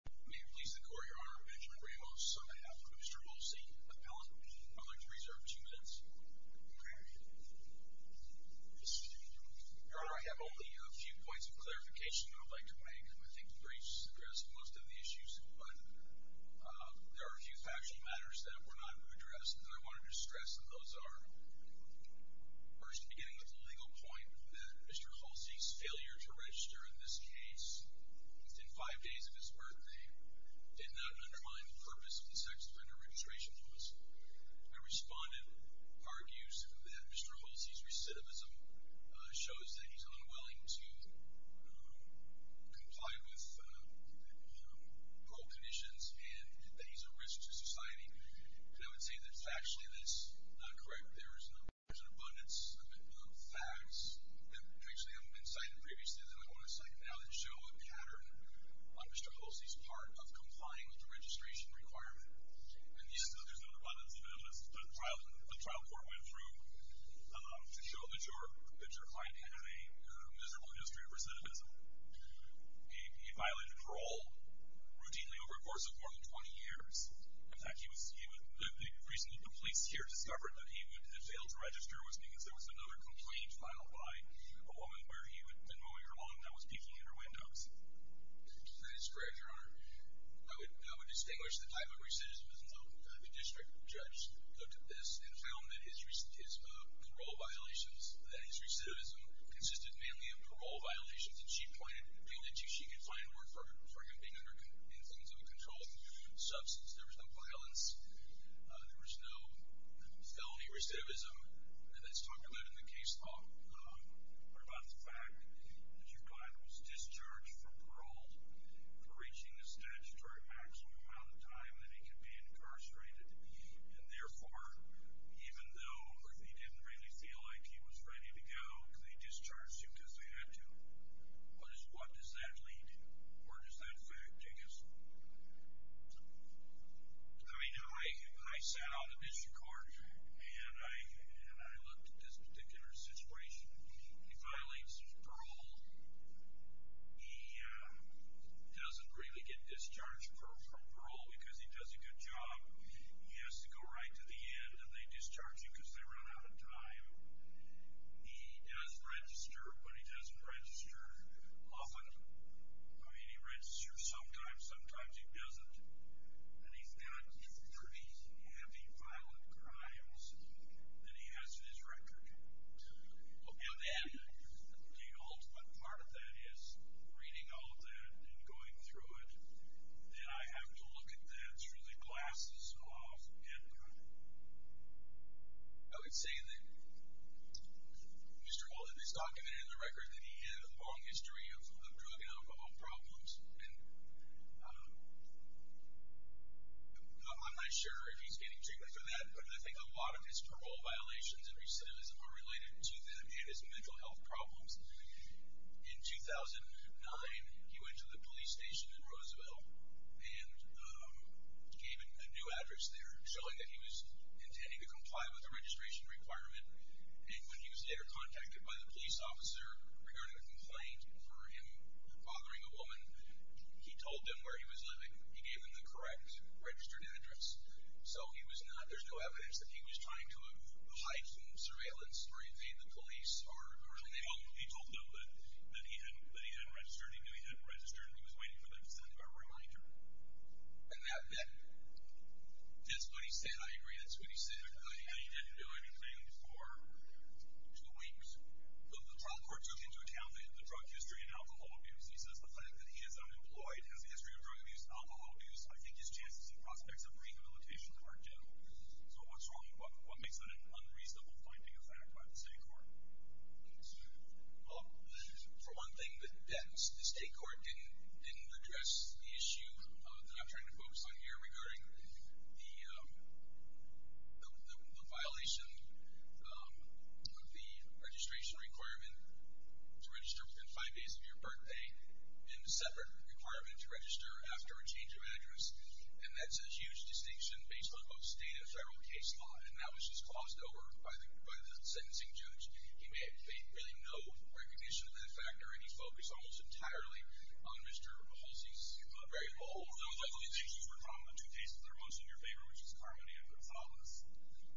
May it please the court, your honor, Benjamin Ramos on behalf of Mr. Holsey, appellate, I'd like to reserve two minutes. Your honor, I have only a few points of clarification I'd like to make. I think briefs address most of the issues, but there are a few factual matters that were not addressed and I wanted to stress that those are First, beginning with the legal point that Mr. Holsey's failure to register in this case within five days of his birthday did not undermine the purpose of the sex offender registration process. My respondent argues that Mr. Holsey's recidivism shows that he's unwilling to comply with parole conditions and that he's a risk to society. And I would say that factually that's not correct. There's an abundance of facts that have been cited previously that I want to cite now that show a pattern on Mr. Holsey's part of complying with the registration requirement. And yet there's an abundance of evidence that the trial court went through to show that your client had a miserable history of recidivism. He violated parole routinely over a course of more than 20 years. In fact, the reason that the police here discovered that he had failed to register was because there was another complaint filed by a woman where he had been mowing her lawn and that was peaking at her windows. That is correct, your honor. I would distinguish the type of recidivism though. The district judge looked at this and found that his parole violations, that his recidivism consisted mainly of parole violations. And she pointed to she could find work for him being under influence of a controlled substance. There was no violence. There was no felony recidivism. And that's talked about in the case law. What about the fact that your client was discharged from parole for reaching the statutory maximum amount of time that he could be incarcerated? And therefore, even though he didn't really feel like he was ready to go, they discharged him because they had to. What does that lead to? Where does that affect Janice? I mean, I sat on the district court, and I looked at this particular situation. He violates his parole. He doesn't really get discharged from parole because he does a good job. He has to go right to the end, and they discharge him because they run out of time. He does register, but he doesn't register often. I mean, he registers sometimes. Sometimes he doesn't. And he's got 30 heavy violent crimes that he has in his record. Well, then the ultimate part of that is reading all of that and going through it. Then I have to look at that through the glasses of end time. I would say that Mr. Wallet has documented in the record that he had a long history of drug and alcohol problems. And I'm not sure if he's getting treated for that, but I think a lot of his parole violations and recidivism are related to them and his mental health problems. In 2009, he went to the police station in Roosevelt and gave a new address there, showing that he was intending to comply with the registration requirement. And when he was later contacted by the police officer regarding a complaint for him bothering a woman, he told them where he was living. He gave them the correct registered address. So there's no evidence that he was trying to hide from surveillance or evade the police. Well, he told them that he hadn't registered. He knew he hadn't registered, and he was waiting for them to send him a reminder. And that's what he said. I agree. That's what he said. He didn't do anything for two weeks. The trial court took into account the drug history and alcohol abuse. He says the fact that he is unemployed, has a history of drug abuse, alcohol abuse, I think his chances and prospects of rehabilitation are general. So what's wrong? What makes that an unreasonable finding of fact by the state court? Well, for one thing, the state court didn't address the issue that I'm trying to focus on here regarding the violation of the registration requirement to register within five days of your birthday and a separate requirement to register after a change of address. And that's a huge distinction based on both state and federal case law. And that was just glossed over by the sentencing judge. He made really no recognition of that factor, and he focused almost entirely on Mr. Halsey's variable. Those other two cases were probably the two cases that are most in your favor, which is Carmody and Gonzales.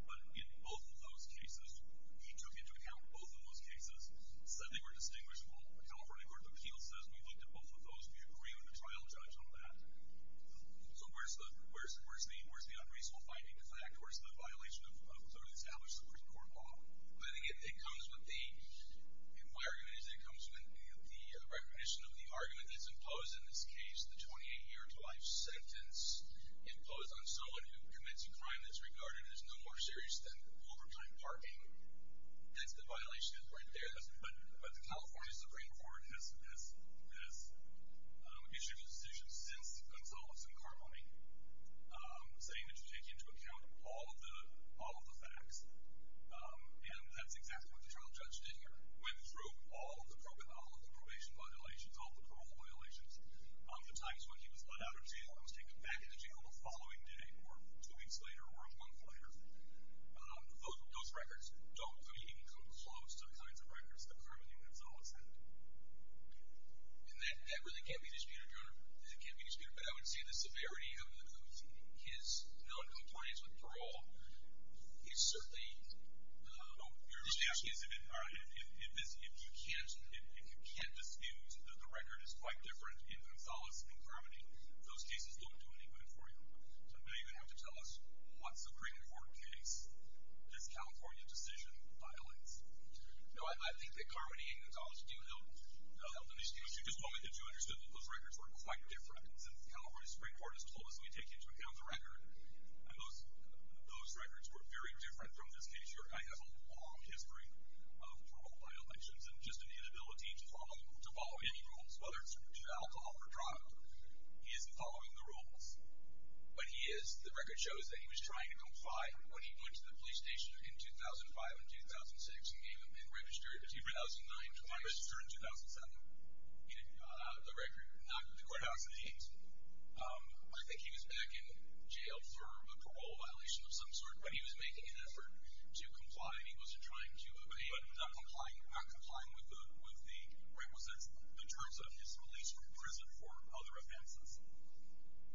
But in both of those cases, he took into account both of those cases, and said they were distinguishable. California Court of Appeals says we looked at both of those. We agree with the trial judge on that. So where's the unreasonable finding of fact? Where's the violation of clearly established Supreme Court law? It comes with the recognition of the argument that's imposed in this case, the 28-year life sentence imposed on someone who commits a crime that's regarded as no more serious than overtime parking. That's the violation right there. But the California Supreme Court has issued a decision since Gonzales and Carmody saying that you take into account all of the facts. And that's exactly what the trial judge did here, went through all of the probation violations, all of the parole violations. The times when he was let out of jail and was taken back into jail the following day or two weeks later or a month later. Those records don't come close to the kinds of records that Carmody and Gonzales had. And that really can't be disputed, Your Honor. That can't be disputed. But I would say the severity of his noncompliance with parole is certainly, if you can't dispute that the record is quite different in Gonzales and Carmody, those cases don't do any good for you. So now you're going to have to tell us what Supreme Court case this California decision violates. No, I think that Carmody and Gonzales do help in these cases. You just want me to get you understood that those records were quite different. Since the California Supreme Court has told us we take into account the record, those records were very different from this case. Your Honor, I have a long history of parole violations and just an inability to follow any rules, whether it's to alcohol or drug. He isn't following the rules. But he is. The record shows that he was trying to comply when he went to the police station in 2005 and 2006 and registered in 2007. The record, not the courthouse, it ain't. I think he was back in jail for a parole violation of some sort, but he was making an effort to comply and he was trying to obey, but not complying with the terms of his release from prison for other offenses.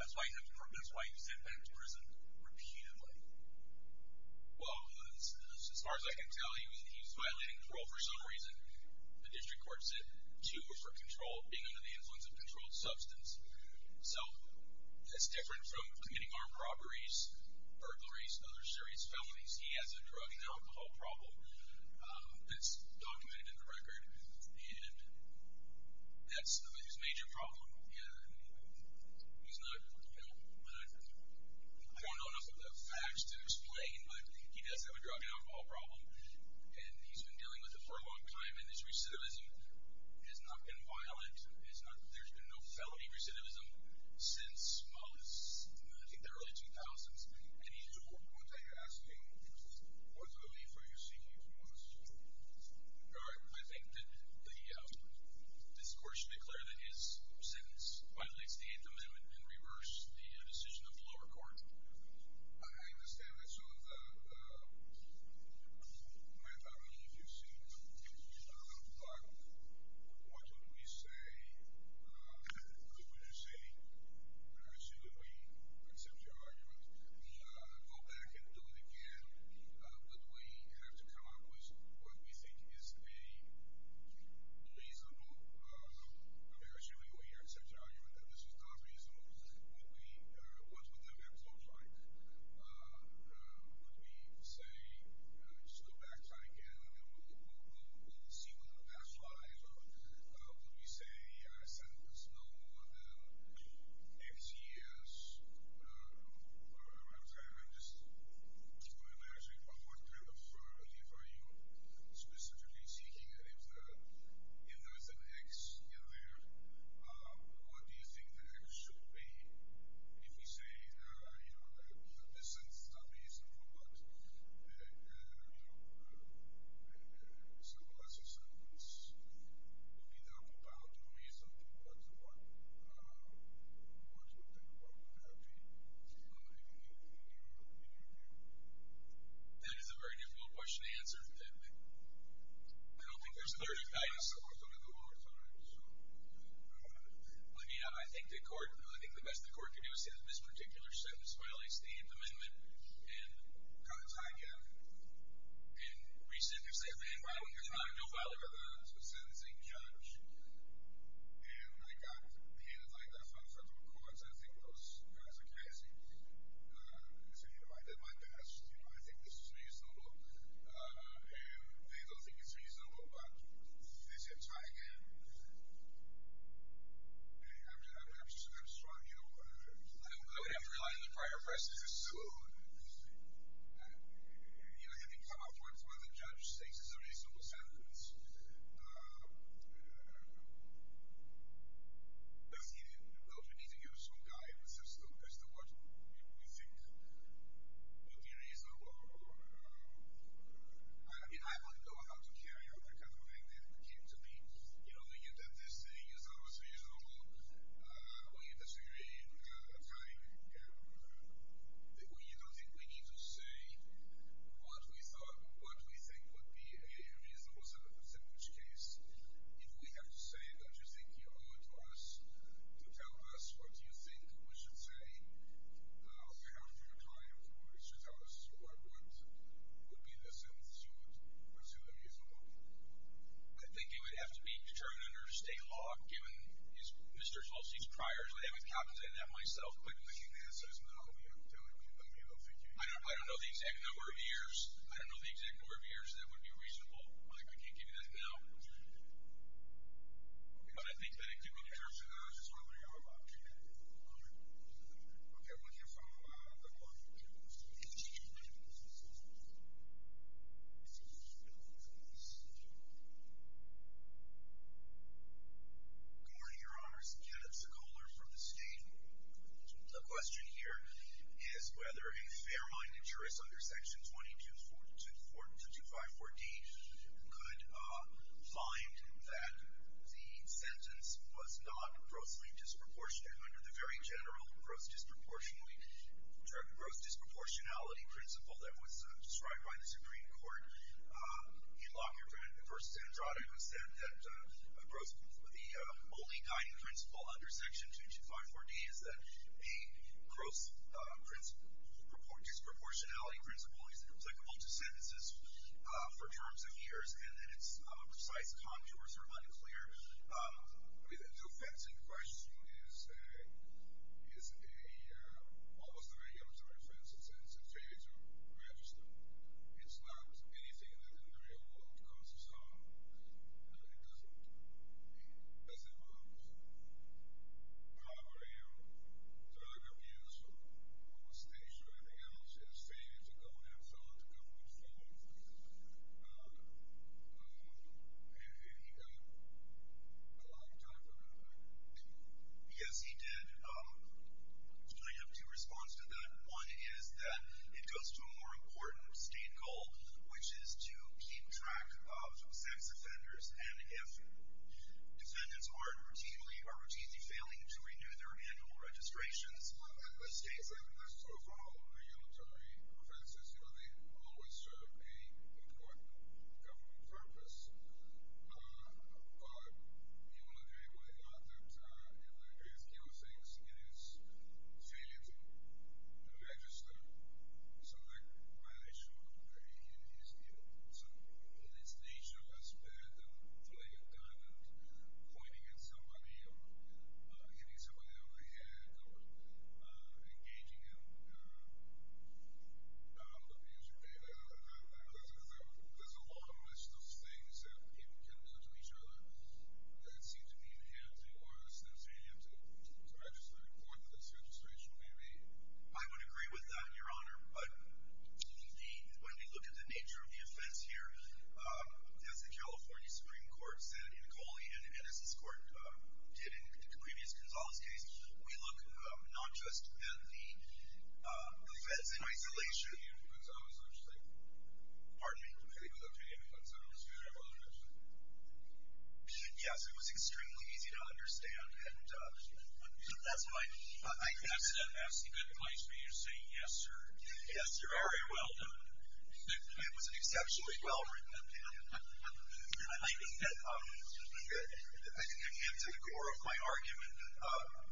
That's why you said that he was in prison repeatedly. Well, as far as I can tell you, he's violating parole for some reason. The district court said two for control, being under the influence of controlled substance. So that's different from committing armed robberies, burglaries, other serious felonies. He has a drug and alcohol problem that's documented in the record, and that's his major problem. He's not going on enough of the facts to explain, but he does have a drug and alcohol problem, and he's been dealing with it for a long time, and his recidivism has not been violent. There's been no felony recidivism since I think the early 2000s. And he's doing what you're asking him to do. What's the relief are you seeking from us? I think that the district court should declare that his sentence violates the Eighth Amendment and reverse the decision of the lower court. I understand that. So, Matt, I mean, if you've seen the conclusion of the little blog, what would you say? What would you say? I assume that we accept your argument. We'll go back and do it again, but we have to come up with what we think is a reasonable, and I assume that we accept your argument that this is not reasonable. What would the effect look like? Would we say, let's go back, try again, and we'll see what the past lies are. Would we say a sentence no more than X years? I'm just wondering what kind of relief are you specifically seeking? If there is an X in there, what do you think the X should be? If we say, you know, this is not reasonable, but, you know, it's a lesser sentence, what do you think about doing something once more? What would that be? That is a very difficult question to answer. I don't think there's a very good answer. We're going to go over time. Let me add, I think the court, I think the best the court can do is say that this particular sentence violates the amendment and kind of try again. And we sit there and say, man, why would you try? You'll file a sentencing charge. And I got handed like that from federal courts. I think those guys are crazy. They say, you know, I did my best. I think this is reasonable. And they don't think it's reasonable, but if they say try again, I'm strong. You know, I don't think I've relied on the prior presses as soon. You know, I think some of the points the judge makes is a reasonable sentence. Does he need to give us some guidance as to what we think would be reasonable? I mean, I don't know how to carry out that kind of thing. It came to me, you know, that this thing is not as reasonable. We disagree in time. We don't think we need to say what we thought, what we think would be a reasonable sentence case. If we have to say, don't you think you owe it to us to tell us what you think we should say? Well, if we have to try again, would you tell us what would be the sentence you would assume would be reasonable? I think it would have to be determined under state law, given Mr. Schultz's priors. I haven't calculated that myself. I don't know the exact number of years. I don't know the exact number of years that would be reasonable. I can't give you that now. But I think that it could be determined. Okay. Okay. We'll hear from Mr. Schultz. Good morning, Your Honors. Kenneth Sekoler from the state. The question here is whether a fair-minded jurist under Section 22-254D could find that the sentence was not grossly disproportionate under the very general gross disproportionality principle that was described by the Supreme Court in Longyearbyen v. Andrade, who said that the only guiding principle under Section 22-254D is that the gross disproportionality principle is applicable to sentences for terms of years and that its precise contours are unclear. The fact in question is almost a very amateur reference. It's a very amateur register. It's not anything that the real world consists of. It doesn't. It doesn't work. However, it's a very, very beautiful overstatement. Is there anything else? Yes. I have two responses to that. One is that it goes to a more important state goal, which is to keep track of sex offenders, and if defendants are routinely failing to renew their annual registrations, the state's evidence goes on hold. The other is that in the case of regulatory offenses, you know, they always serve an important government purpose, but in Longyearbyen, I thought that in the case of killings, it is failing to register, so there might actually be some police nature as better than playing it down and pointing at somebody and hitting somebody in the head or engaging him. There's a long list of things that people can do to each other that seem to be enhancing or facilitating him to register in court for this registration, maybe. I would agree with that, Your Honor, but when we look at the nature of the offense here, as the California Supreme Court said, and Coley and Edison's court did in the previous Gonzales case, we look not just at the offense in isolation. Excuse me. Pardon me. I think it was okay. Excuse me. I apologize. Yes, it was extremely easy to understand. That's fine. I accidentally asked you good advice, but you're saying yes, sir. Yes, sir. All right. Well done. It was an exceptionally well-written opinion. I think that it came to the core of my argument.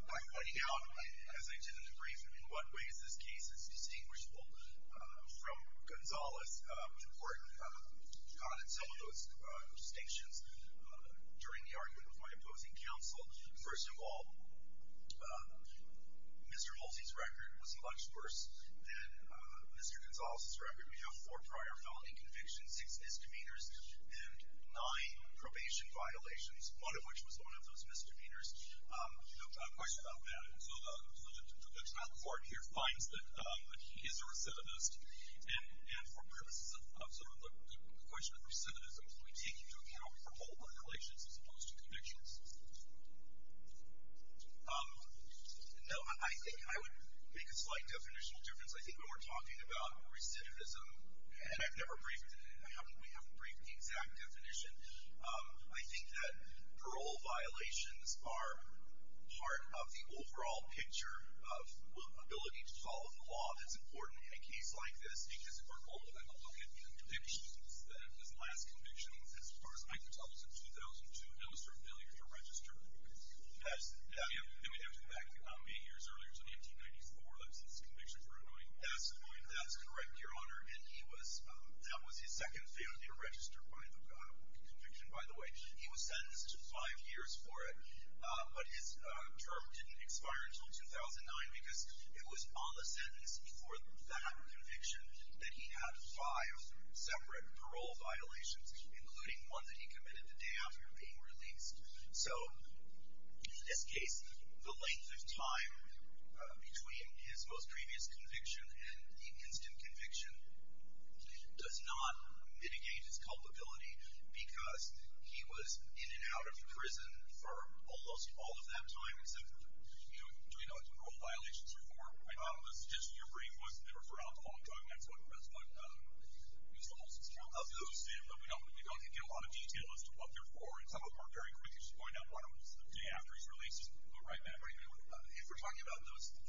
I pointed out, as I did in the brief, in what ways this case is distinguishable from Gonzales, which is important, some of those distinctions during the argument with my opposing counsel. First of all, Mr. Mulsey's record was much worse than Mr. Gonzales' record. We have four prior felony convictions, six misdemeanors, and nine probation violations, one of which was one of those misdemeanors. A question about that. So the trial court here finds that he is a recidivist, and for purposes of sort of the question of recidivism, do we take into account parole violations as opposed to convictions? No, I think I would make a slight definitional difference. I think when we're talking about recidivism, and I've never briefed, we haven't briefed the exact definition, I think that parole violations are part of the overall picture of ability to follow the law. It's important in a case like this, because if we're going to look at convictions, then his last conviction, as far as I can tell, was in 2002. That was her failure to register. Yes. And we have to go back eight years earlier, so 1994. That was his conviction for anointing. That's anointing. That's correct, Your Honor. And he was, that was his second failure to register by conviction, by the way. He was sentenced to five years for it, but his term didn't expire until 2009 because it was on the sentence for that conviction that he had five separate parole violations, including one that he committed the day after being released. So in this case, the length of time between his most previous conviction and the instant conviction does not mitigate his culpability because he was in and out of prison for almost all of that time. Do we know what parole violations are for? I thought it was just your brief wasn't there for alcohol. I'm talking, that's what the rest of us use the whole system of those in, but we don't get a lot of detail as to what they're for. And some of them are very quick. You should find out one of them is the day after he's released. All right, Matt, what do you think? If we're talking about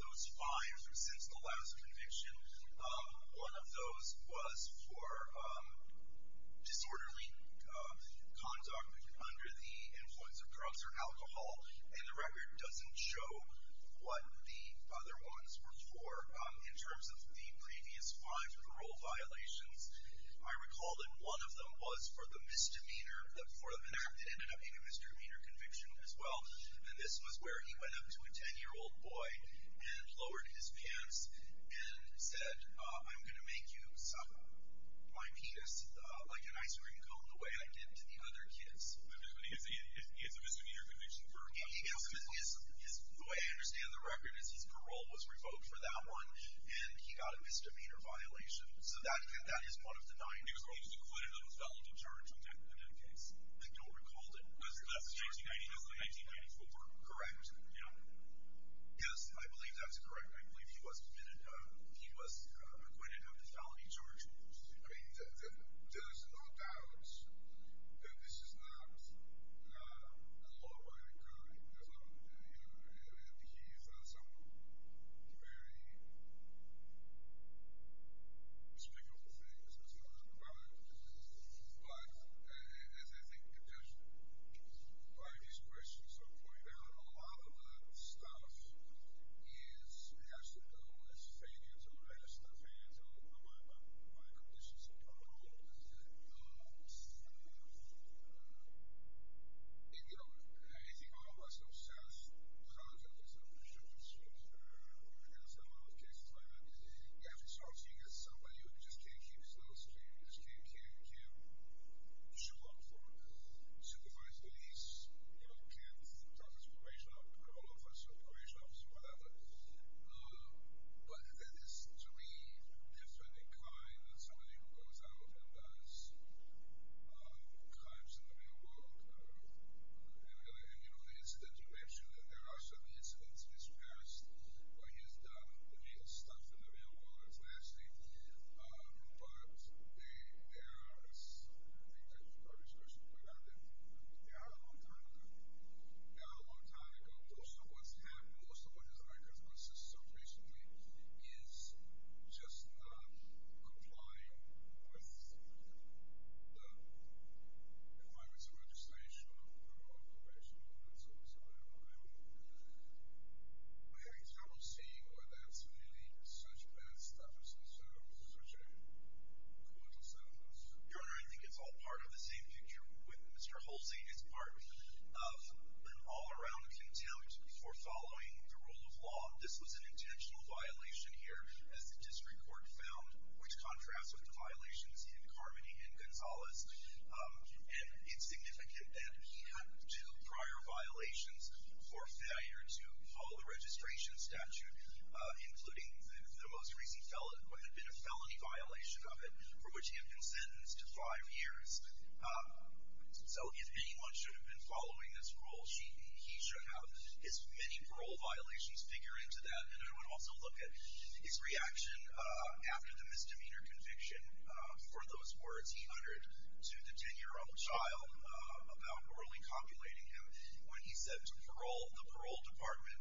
those fives or since the last conviction, one of those was for disorderly conduct under the influence of drugs or alcohol, and the record doesn't show what the other ones were for. In terms of the previous five parole violations, I recall that one of them was for the misdemeanor, for an act that ended up in a misdemeanor conviction as well. And this was where he went up to a 10-year-old boy and lowered his pants and said, I'm going to make you suck my penis like an ice cream cone the way I did to the other kids. It's a misdemeanor conviction. The way I understand the record is his parole was revoked for that one, and he got a misdemeanor violation. So that is one of the nine. He was acquitted of the felony charge in that case. I don't recall that. That's in 1994. Correct. Yes, I believe that's correct. I believe he was acquitted of the felony charge. I mean, there's no doubt that this is not a law-abiding crime. And he's done some very respectable things. There's no doubt about it. But as I think just by these questions of going down, a lot of the stuff is actually known as failure to arrest, or failure to abide by conditions of parole. And, you know, as you all know, I'm still obsessed with Angela. There's a lot of cases like that. You have to talk to somebody who just can't keep his nose clean, just can't show up for supervised police, just can't talk to his probation officer, parole officer, probation officer, whatever. But there's three different kinds of somebody who goes out and does crimes in the real world. And, you know, the incident you mentioned, and there are certainly incidents in this past where he has done illegal stuff in the real world. It's nasty. But there are, as I think the previous question pointed out, there are a lot of time to go. There are a lot of time to go. Most of what's happened, most of what has arisen on the system recently is just not complying with the requirements of registration or probation or whatever. So, you know, I haven't seen where that's really such bad stuff Your Honor, I think it's all part of the same picture with Mr. Holstein. It's part of an all-around contempt for following the rule of law. This was an intentional violation here, as the district court found, which contrasts with the violations in Carmody and Gonzales. And it's significant that he had two prior violations for failure to which he had been sentenced to five years. So if anyone should have been following this rule, he should have his many parole violations figure into that. And I want to also look at his reaction after the misdemeanor conviction. For those words he uttered to the 10-year-old child about morally copulating him when he said to the parole department,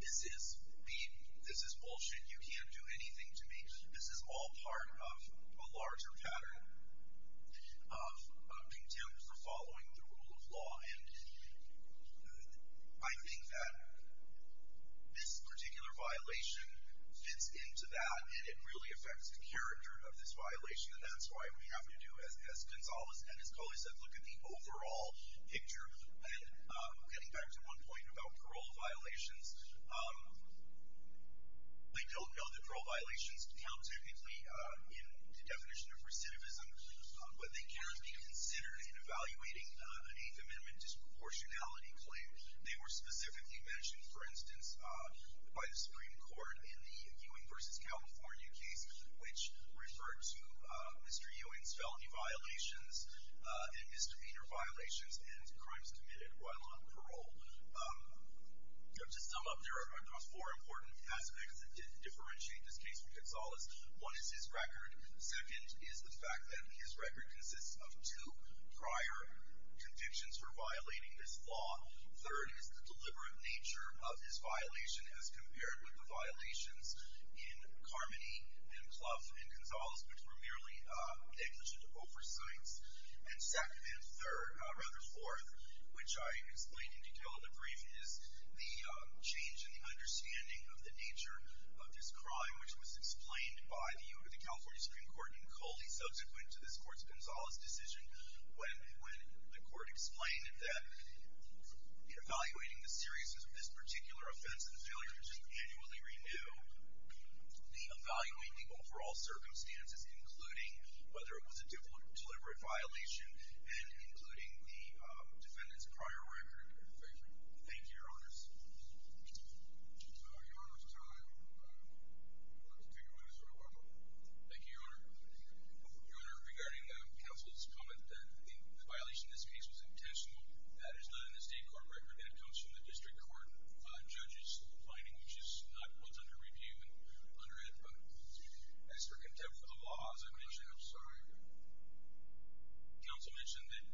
this is bullshit. You can't do anything to me. This is all part of a larger pattern of contempt for following the rule of law. And I think that this particular violation fits into that, and it really affects the character of this violation. And that's why we have to do, as Gonzales and his colleagues said, look at the overall picture. And getting back to one point about parole violations, they don't know that parole violations count technically in the definition of recidivism, but they can be considered in evaluating an Eighth Amendment disproportionality claim. They were specifically mentioned, for instance, by the Supreme Court in the Ewing v. California case, which referred to Mr. Ewing's felony violations and misdemeanor violations and crimes committed while on parole. To sum up, there are four important aspects that differentiate this case from Gonzales. One is his record. Second is the fact that his record consists of two prior convictions for violating this law. Third is the deliberate nature of his violation as compared with the violations in Carmody and Clough and Gonzales, which were merely negligent oversights. And second and third, or rather fourth, which I explained in detail in the brief, is the change in the understanding of the nature of this crime, which was explained by the Ewing v. California Supreme Court in Coldy, subsequent to this court's Gonzales decision, when the court explained that evaluating the seriousness of this particular offense and the failure to annually renew, the evaluating overall circumstances, including whether it was a deliberate violation and including the defendant's prior record. Thank you. Thank you, Your Honors. Your Honor, it's time to take away this order. Thank you, Your Honor. Your Honor, regarding counsel's comment that the violation in this case was intentional, that is not in the state court record. That comes from the district court judge's finding, which is not what's under review and under it. But as for contempt of the law, as I mentioned, I'm sorry, counsel mentioned that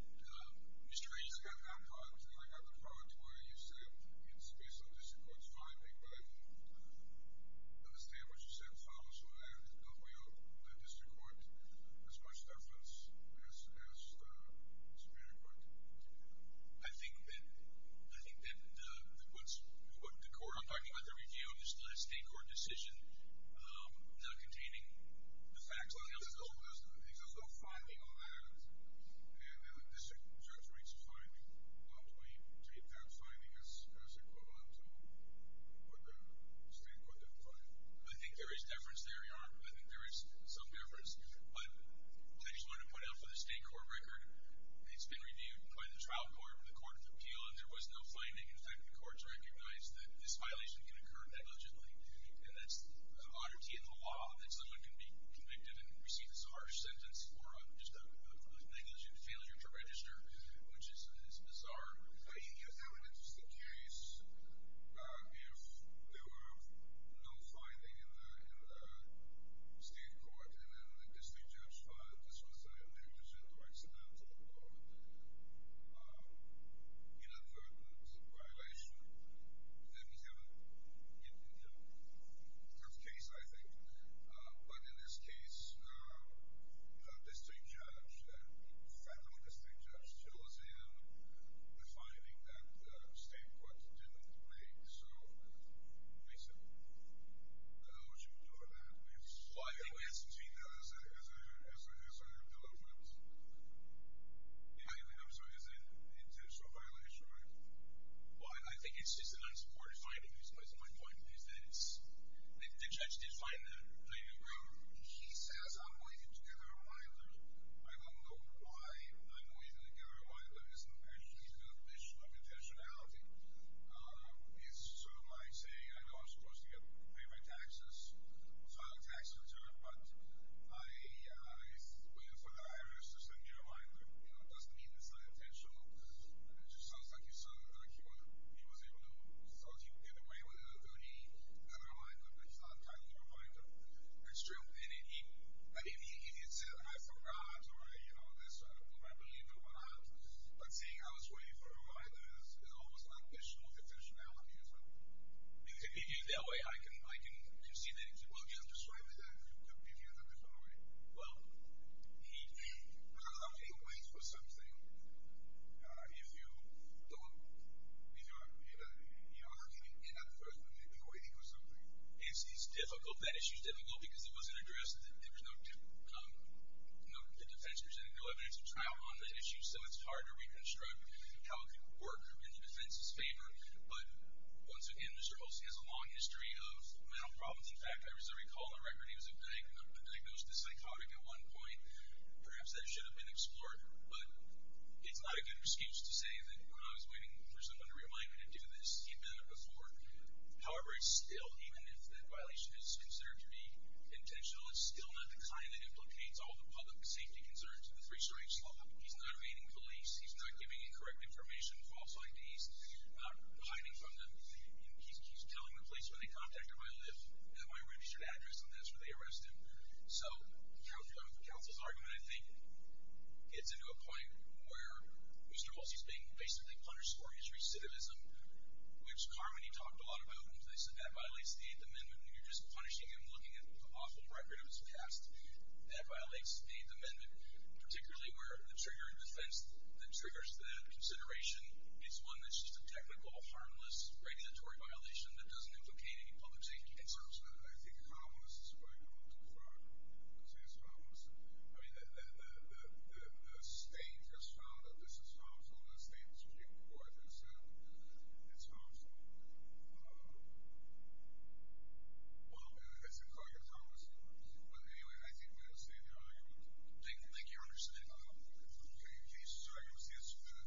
Mr. Ainsley got an outcry, which I have the prerogatory to use today. It's based on district court's finding, but I don't understand what you said in the file, so I don't weigh out the district court as much evidence as the Supreme Court. I think that the court I'm talking about, the review of the state court decision, not containing the facts, nothing else is over with. I think there's no finding on that. And the district judge reads the finding. Do we take that finding as a quote-unquote, that the state court didn't find? I think there is deference there, Your Honor. I think there is some deference. But I just wanted to point out for the state court record, it's been reviewed by the trial court and the court of appeal, and there was no finding. In fact, the court has recognized that this violation can occur negligently, and that's an oddity in the law, that someone can be convicted and receive this harsh sentence for just a negligent failure to register, which is bizarre. I think that would be just a case if there were no finding in the state court, and then the district judge finds this was a negligent or accidental or inadvertent violation. Then you have a perfect case, I think. But in this case, the district judge, the federal district judge, shows him the finding that the state court didn't make. So we said, I don't know what you would do with that. Why do you ask me that as a delegate? I'm sorry. It's an intentional violation, right? Well, I think it's just a nice court finding, at least that's my point. The judge did find that. He says, I'm waiting to get out of my life. I don't know why I'm waiting to get out of my life. It's not that he's an official of intentionality. It's sort of my saying, I know I'm supposed to get paid my taxes, so I have a tax return, but I wait for the IRS to send me a reminder. It doesn't mean it's unintentional. It just sounds like he was able to get away with it, but he got a reminder, and it's not a timely reminder. I mean, if he said, I forgot, or I believe it or not, but saying I was waiting for a reminder is almost an official of intentionality as well. If he did it that way, I can see that. Well, he doesn't describe it that way. Do you hear that before? Well, he waits for something. If you don't, you know, he's not the first one to be waiting for something. It's difficult. That issue is difficult because it wasn't addressed. There was no defense presented, no evidence of trial on that issue, so it's hard to reconstruct how the court group is in defense's favor, but once again, Mr. Olson has a long history of mental problems. In fact, as I recall on record, he was diagnosed as psychotic at one point. Perhaps that should have been explored, but it's not a good excuse to say that when I was waiting for someone to remind me to do this, he'd been there before. However, it's still, even if that violation is considered to be intentional, it's still not the kind that implicates all the public safety concerns in the three strikes law. He's not evading police. He's not giving incorrect information, false IDs. He's not hiding from them. He's telling the police where they contacted him, I live at my registered address, and that's where they arrested him. So the counsel's argument, I think, gets into a point where Mr. Olson is being basically punished for his recidivism, which Carmody talked a lot about in place, and that violates the Eighth Amendment. You're just punishing him looking at an awful record of his past. That violates the Eighth Amendment, particularly where the trigger in defense that triggers the consideration is one that's just a technical, harmless, regulatory violation that doesn't implicate any public safety concerns. I think calmness is going a little too far. I would say it's calmness. I mean, the state has found that this is calmness, and the state's report has said it's calmness. Well, it's a clear calmness. But anyway, I think we understand the argument. I think you understand the argument. I think you understand the argument.